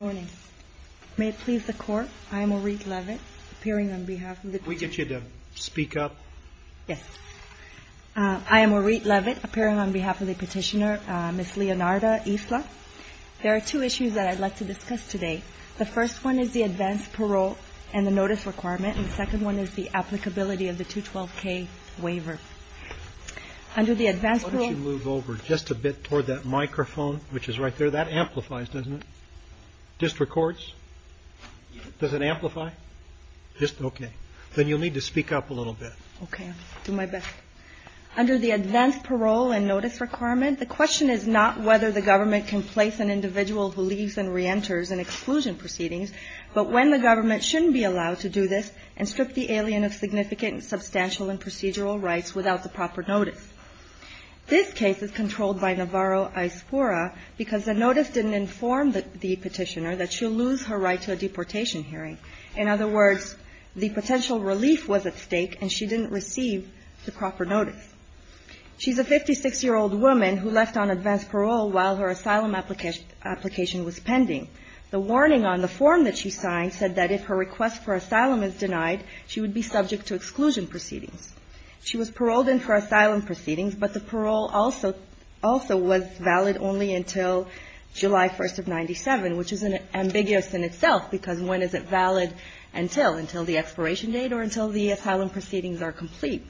Good morning. May it please the Court, I am Maureen Leavitt, appearing on behalf of the petitioner... Can we get you to speak up? Yes. I am Maureen Leavitt, appearing on behalf of the petitioner, Ms. Leonarda Isla. There are two issues that I'd like to discuss today. The first one is the advance parole and the notice requirement, and the second one is the applicability of the 212K waiver. Under the advance parole... District Courts? Does it amplify? Okay. Then you'll need to speak up a little bit. Okay. I'll do my best. Under the advance parole and notice requirement, the question is not whether the government can place an individual who leaves and reenters in exclusion proceedings, but when the government shouldn't be allowed to do this and strip the alien of significant, substantial, and procedural rights without the proper notice. This case is controlled by Navarro-Aspura because the notice didn't inform the petitioner that she'll lose her right to a deportation hearing. In other words, the potential relief was at stake, and she didn't receive the proper notice. She's a 56-year-old woman who left on advance parole while her asylum application was pending. The warning on the form that she signed said that if her request for asylum is denied, she would be subject to exclusion proceedings. She was paroled in for asylum proceedings, but the parole also was valid only until July 1st of 97, which is ambiguous in itself because when is it valid until? Until the expiration date or until the asylum proceedings are complete?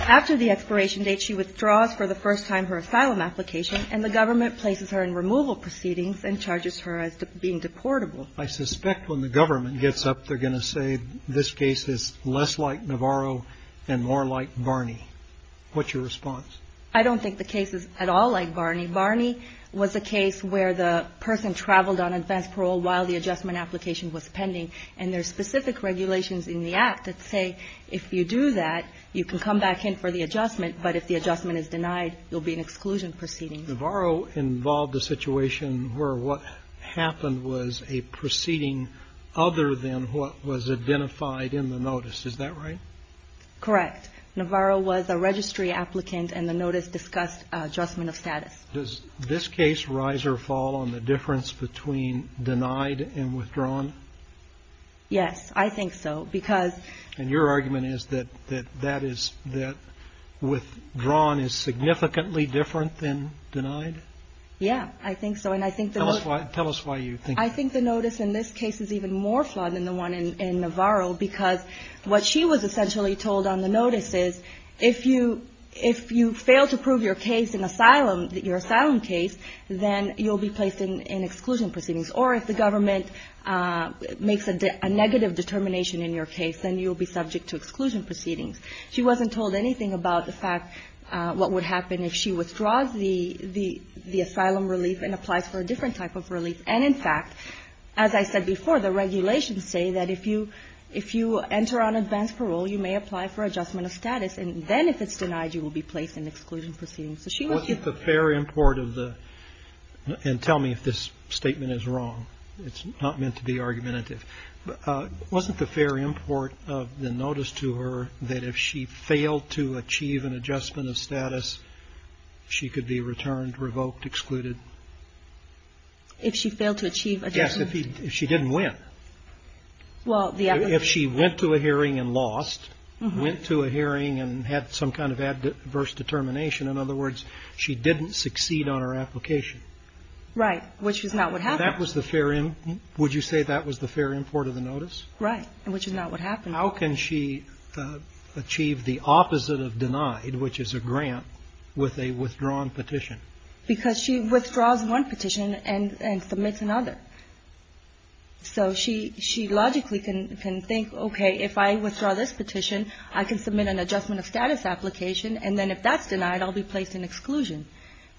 After the expiration date, she withdraws for the first time her asylum application, and the government places her in removal proceedings and charges her as being deportable. I suspect when the government gets up, they're going to say this case is less like Navarro and more like Barney. What's your response? I don't think the case is at all like Barney. Barney was a case where the person traveled on advance parole while the adjustment application was pending, and there's specific regulations in the Act that say if you do that, you can come back in for the adjustment, but if the adjustment is denied, you'll be in exclusion proceedings. Navarro involved a situation where what happened was a proceeding other than what was identified in the notice. Is that right? Correct. Navarro was a registry applicant, and the notice discussed adjustment of status. Does this case rise or fall on the difference between denied and withdrawn? Yes, I think so, because… And your argument is that withdrawn is significantly different than denied? Yes, I think so. Tell us why you think that. I think the notice in this case is even more flawed than the one in Navarro, because what she was essentially told on the notice is if you fail to prove your case in asylum, your asylum case, then you'll be placed in exclusion proceedings, or if the government makes a negative determination in your case, then you'll be subject to exclusion proceedings. She wasn't told anything about the fact what would happen if she withdraws the asylum relief and applies for a different type of relief. And, in fact, as I said before, the regulations say that if you enter on advanced parole, you may apply for adjustment of status, and then if it's denied, you will be placed in exclusion proceedings. Wasn't the fair import of the – and tell me if this statement is wrong. It's not meant to be argumentative. Wasn't the fair import of the notice to her that if she failed to achieve an adjustment of status, she could be returned, revoked, excluded? If she failed to achieve adjustment? Yes, if she didn't win. Well, the other – If she went to a hearing and lost, went to a hearing and had some kind of adverse determination, in other words, she didn't succeed on her application. Right, which is not what happened. That was the fair – would you say that was the fair import of the notice? Right, which is not what happened. How can she achieve the opposite of denied, which is a grant, with a withdrawn petition? Because she withdraws one petition and submits another. I can submit an adjustment of status application, and then if that's denied, I'll be placed in exclusion.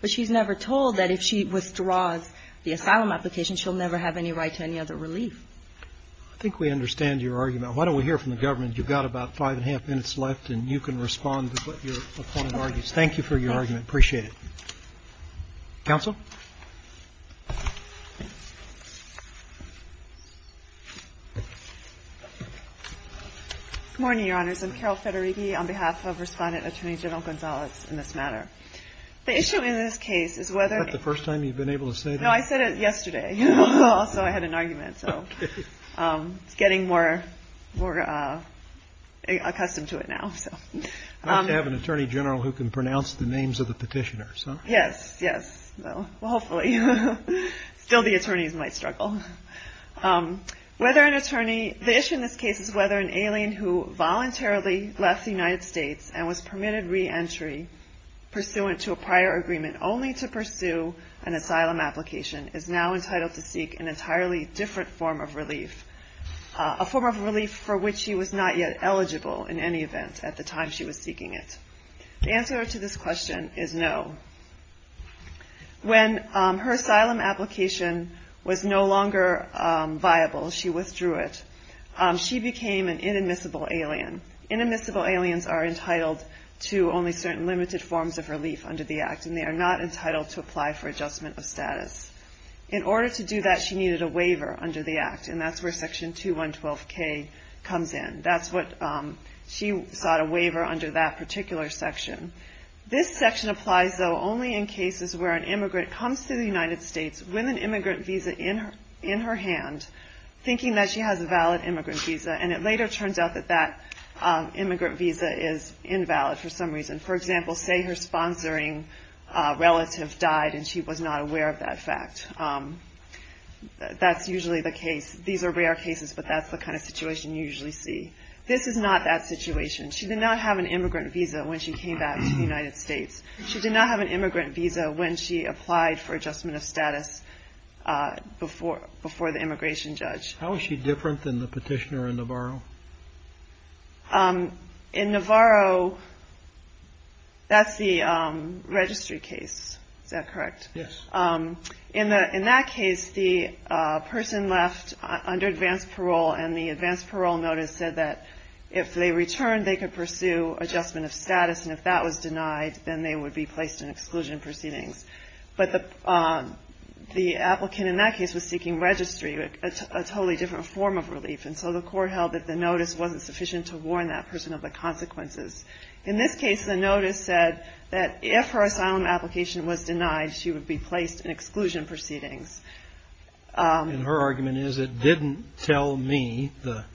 But she's never told that if she withdraws the asylum application, she'll never have any right to any other relief. I think we understand your argument. Why don't we hear from the government? You've got about five and a half minutes left, and you can respond to what your opponent argues. Thank you for your argument. I appreciate it. Counsel? Good morning, Your Honors. I'm Carol Federighi on behalf of Respondent Attorney General Gonzalez in this matter. The issue in this case is whether – Is that the first time you've been able to say that? No, I said it yesterday. Also, I had an argument. Okay. So it's getting more accustomed to it now. I like to have an attorney general who can pronounce the names of the petitioners. Yes, yes. Well, hopefully. Still, the attorneys might struggle. Whether an attorney – the issue in this case is whether an alien who voluntarily left the United States and was permitted reentry pursuant to a prior agreement only to pursue an asylum application is now entitled to seek an entirely different form of relief, a form of relief for which she was not yet eligible in any event at the time she was seeking it. The answer to this question is no. When her asylum application was no longer viable, she withdrew it. She became an inadmissible alien. Inadmissible aliens are entitled to only certain limited forms of relief under the Act, and they are not entitled to apply for adjustment of status. In order to do that, she needed a waiver under the Act, and that's where Section 2112K comes in. That's what she sought a waiver under that particular section. This section applies, though, only in cases where an immigrant comes to the United States with an immigrant visa in her hand, thinking that she has a valid immigrant visa, and it later turns out that that immigrant visa is invalid for some reason. For example, say her sponsoring relative died and she was not aware of that fact. That's usually the case. These are rare cases, but that's the kind of situation you usually see. This is not that situation. She did not have an immigrant visa when she came back to the United States. She did not have an immigrant visa when she applied for adjustment of status before the immigration judge. How is she different than the petitioner in Navarro? In Navarro, that's the registry case. Is that correct? Yes. In that case, the person left under advance parole, and the advance parole notice said that if they returned, they could pursue adjustment of status, and if that was denied, then they would be placed in exclusion proceedings. But the applicant in that case was seeking registry, a totally different form of relief, and so the court held that the notice wasn't sufficient to warn that person of the consequences. In this case, the notice said that if her asylum application was denied, she would be placed in exclusion proceedings. And her argument is it didn't tell me, the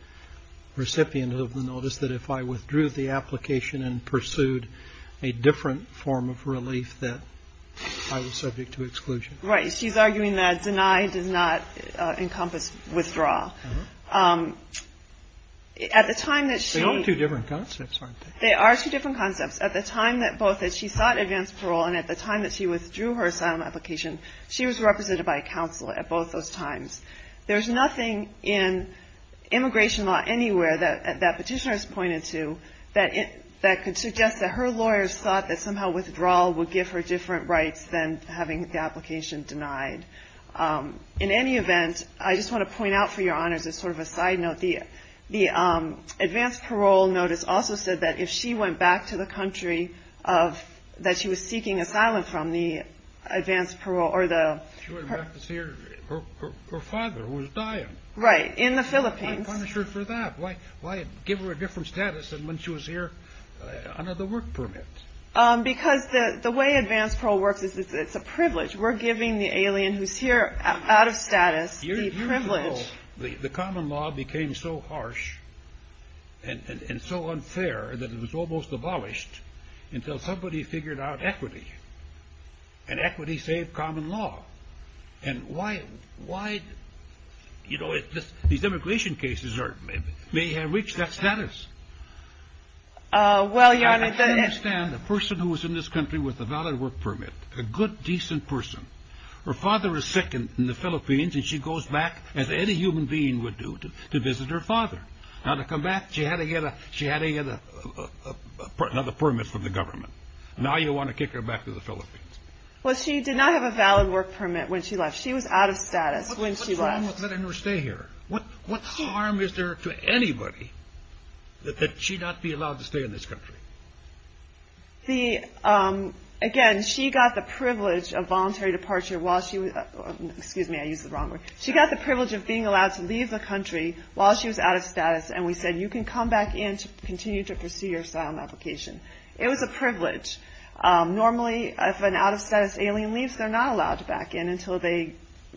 recipient of the notice, that if I withdrew the application and pursued a different form of relief, that I was subject to exclusion. Right. She's arguing that deny does not encompass withdraw. They are two different concepts, aren't they? They are two different concepts. At the time that she sought advance parole, and at the time that she withdrew her asylum application, she was represented by counsel at both those times. There's nothing in immigration law anywhere that petitioners pointed to that could suggest that her lawyers thought that somehow withdrawal would give her different rights than having the application denied. In any event, I just want to point out for your honors, as sort of a side note, the advance parole notice also said that if she went back to the country that she was seeking asylum from, the advance parole or the... She went back to her father, who was dying. Right, in the Philippines. Why punish her for that? Why give her a different status than when she was here under the work permit? Because the way advance parole works is it's a privilege. We're giving the alien who's here out of status the privilege. Years ago, the common law became so harsh and so unfair that it was almost abolished until somebody figured out equity. And equity saved common law. And why, you know, these immigration cases may have reached that status. Well, your honor... I understand the person who is in this country with a valid work permit, a good, decent person, her father is sick in the Philippines and she goes back, as any human being would do, to visit her father. Now to come back, she had to get another permit from the government. Now you want to kick her back to the Philippines. Well, she did not have a valid work permit when she left. She was out of status when she left. What's wrong with letting her stay here? What harm is there to anybody that she not be allowed to stay in this country? Again, she got the privilege of voluntary departure while she was... Excuse me, I used the wrong word. She got the privilege of being allowed to leave the country while she was out of status, and we said you can come back in to continue to pursue your asylum application. It was a privilege. Normally, if an out-of-status alien leaves, they're not allowed to back in until they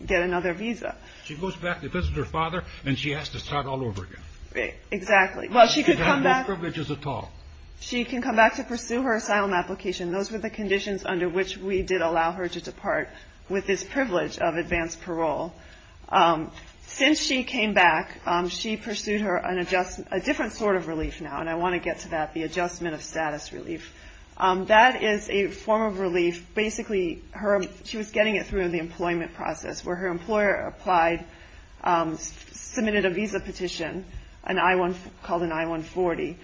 get another visa. She goes back to visit her father and she has to start all over again. Exactly. Well, she could come back... She didn't have those privileges at all. She can come back to pursue her asylum application. Those were the conditions under which we did allow her to depart with this privilege of advanced parole. Since she came back, she pursued a different sort of relief now, and I want to get to that, the adjustment of status relief. That is a form of relief. Basically, she was getting it through in the employment process, where her employer submitted a visa petition called an I-140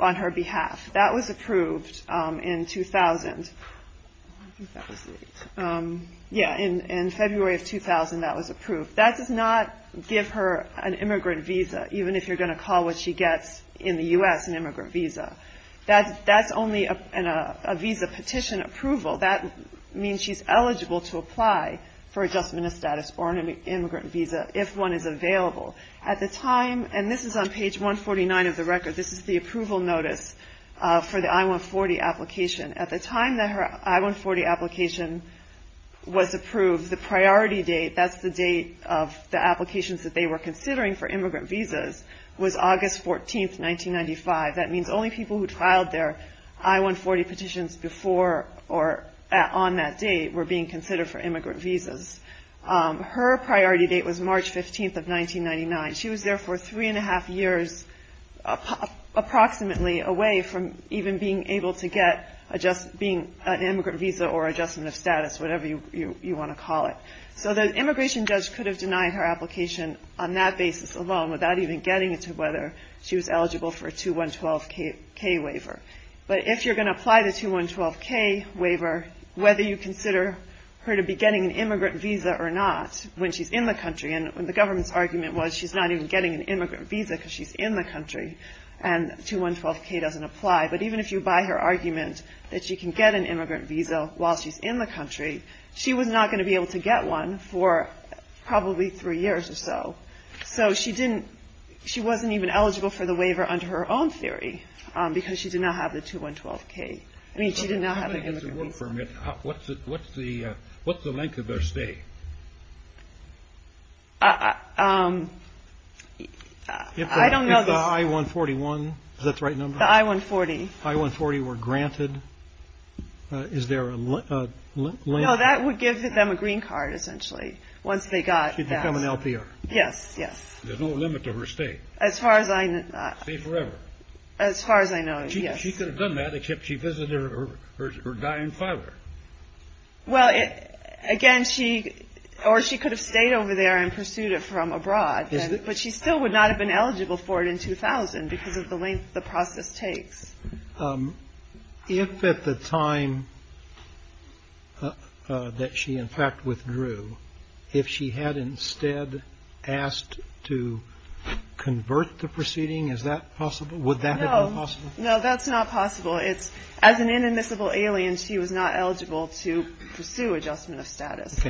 on her behalf. That was approved in 2000. I think that was late. Yeah, in February of 2000, that was approved. That does not give her an immigrant visa, even if you're going to call what she gets in the U.S. an immigrant visa. That's only a visa petition approval. That means she's eligible to apply for adjustment of status or an immigrant visa if one is available. At the time, and this is on page 149 of the record, this is the approval notice for the I-140 application. At the time that her I-140 application was approved, the priority date, that's the date of the applications that they were considering for immigrant visas, was August 14, 1995. That means only people who trialed their I-140 petitions before or on that date were being considered for immigrant visas. Her priority date was March 15 of 1999. She was there for three and a half years, approximately away from even being able to get an immigrant visa or adjustment of status, whatever you want to call it. So the immigration judge could have denied her application on that basis alone, without even getting into whether she was eligible for a 2-1-12-K waiver. But if you're going to apply the 2-1-12-K waiver, whether you consider her to be getting an immigrant visa or not when she's in the country, and the government's argument was she's not even getting an immigrant visa because she's in the country, and 2-1-12-K doesn't apply. But even if you buy her argument that she can get an immigrant visa while she's in the country, she was not going to be able to get one for probably three years or so. So she wasn't even eligible for the waiver under her own theory because she did not have the 2-1-12-K. I mean, she did not have an immigrant visa. What's the length of her stay? I don't know. If the I-141, is that the right number? The I-140. The I-140 were granted. Is there a length? No, that would give them a green card, essentially, once they got that. She'd become an LPR. Yes, yes. There's no limit to her stay. As far as I know. Stay forever. As far as I know, yes. She could have done that except she visited her dying father. Well, again, or she could have stayed over there and pursued it from abroad, but she still would not have been eligible for it in 2000 because of the length the process takes. If at the time that she, in fact, withdrew, if she had instead asked to convert the proceeding, is that possible? Would that have been possible? No, that's not possible. As an inadmissible alien, she was not eligible to pursue adjustment of status.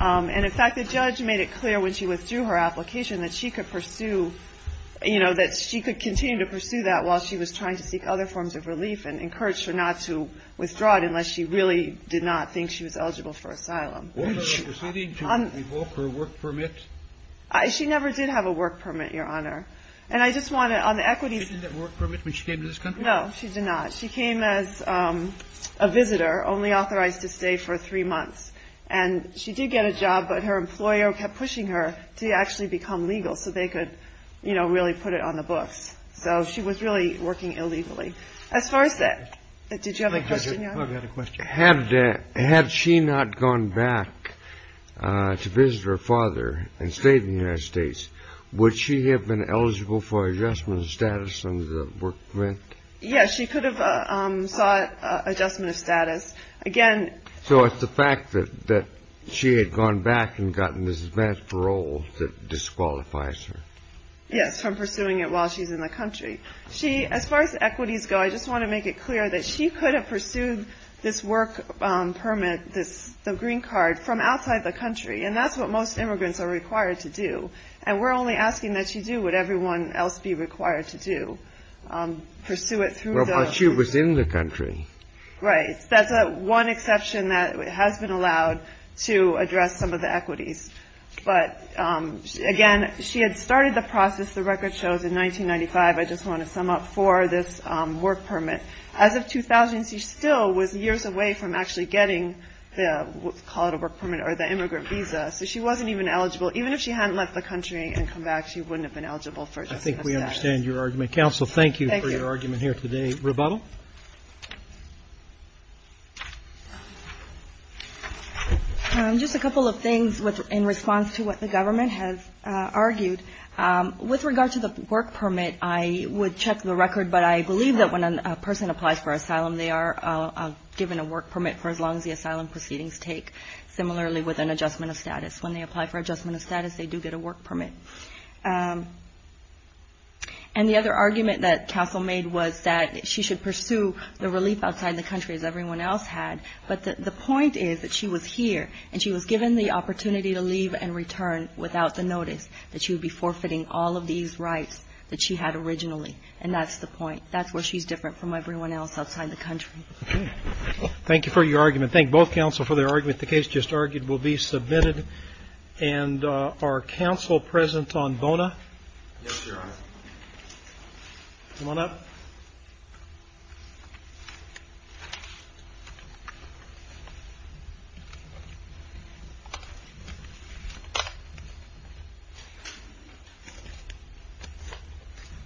And in fact, the judge made it clear when she withdrew her application that she could pursue, you know, that she could continue to pursue that while she was trying to seek other forms of relief and encouraged her not to withdraw it unless she really did not think she was eligible for asylum. Was she proceeding to revoke her work permit? She never did have a work permit, Your Honor. And I just want to, on the equities. She didn't have a work permit when she came to this country? No, she did not. She came as a visitor, only authorized to stay for three months. And she did get a job, but her employer kept pushing her to actually become legal so they could, you know, really put it on the books. So she was really working illegally. As far as that, did you have a question, Your Honor? I've got a question. Had she not gone back to visit her father and stayed in the United States, would she have been eligible for adjustment of status under the work permit? Yes, she could have sought adjustment of status. So it's the fact that she had gone back and gotten this advance parole that disqualifies her? Yes, from pursuing it while she's in the country. She, as far as equities go, I just want to make it clear that she could have pursued this work permit, the green card, from outside the country. And that's what most immigrants are required to do. And we're only asking that she do what everyone else would be required to do, pursue it through the- Well, but she was in the country. Right. That's one exception that has been allowed to address some of the equities. But, again, she had started the process, the record shows, in 1995, I just want to sum up, for this work permit. As of 2000, she still was years away from actually getting the, call it a work permit, or the immigrant visa. So she wasn't even eligible. Even if she hadn't left the country and come back, she wouldn't have been eligible for adjustment of status. I think we understand your argument. Counsel, thank you for your argument here today. Thank you. Just a couple of things in response to what the government has argued. With regard to the work permit, I would check the record, but I believe that when a person applies for asylum, they are given a work permit for as long as the asylum proceedings take, similarly with an adjustment of status. When they apply for adjustment of status, they do get a work permit. And the other argument that counsel made was that she should pursue the relief outside the country, as everyone else had. But the point is that she was here, and she was given the opportunity to leave and return without the notice, that she would be forfeiting all of these rights that she had originally. And that's the point. That's where she's different from everyone else outside the country. Thank you for your argument. Thank both counsel for their argument. The case just argued will be submitted. And are counsel present on Bona? Yes, Your Honor. Come on up.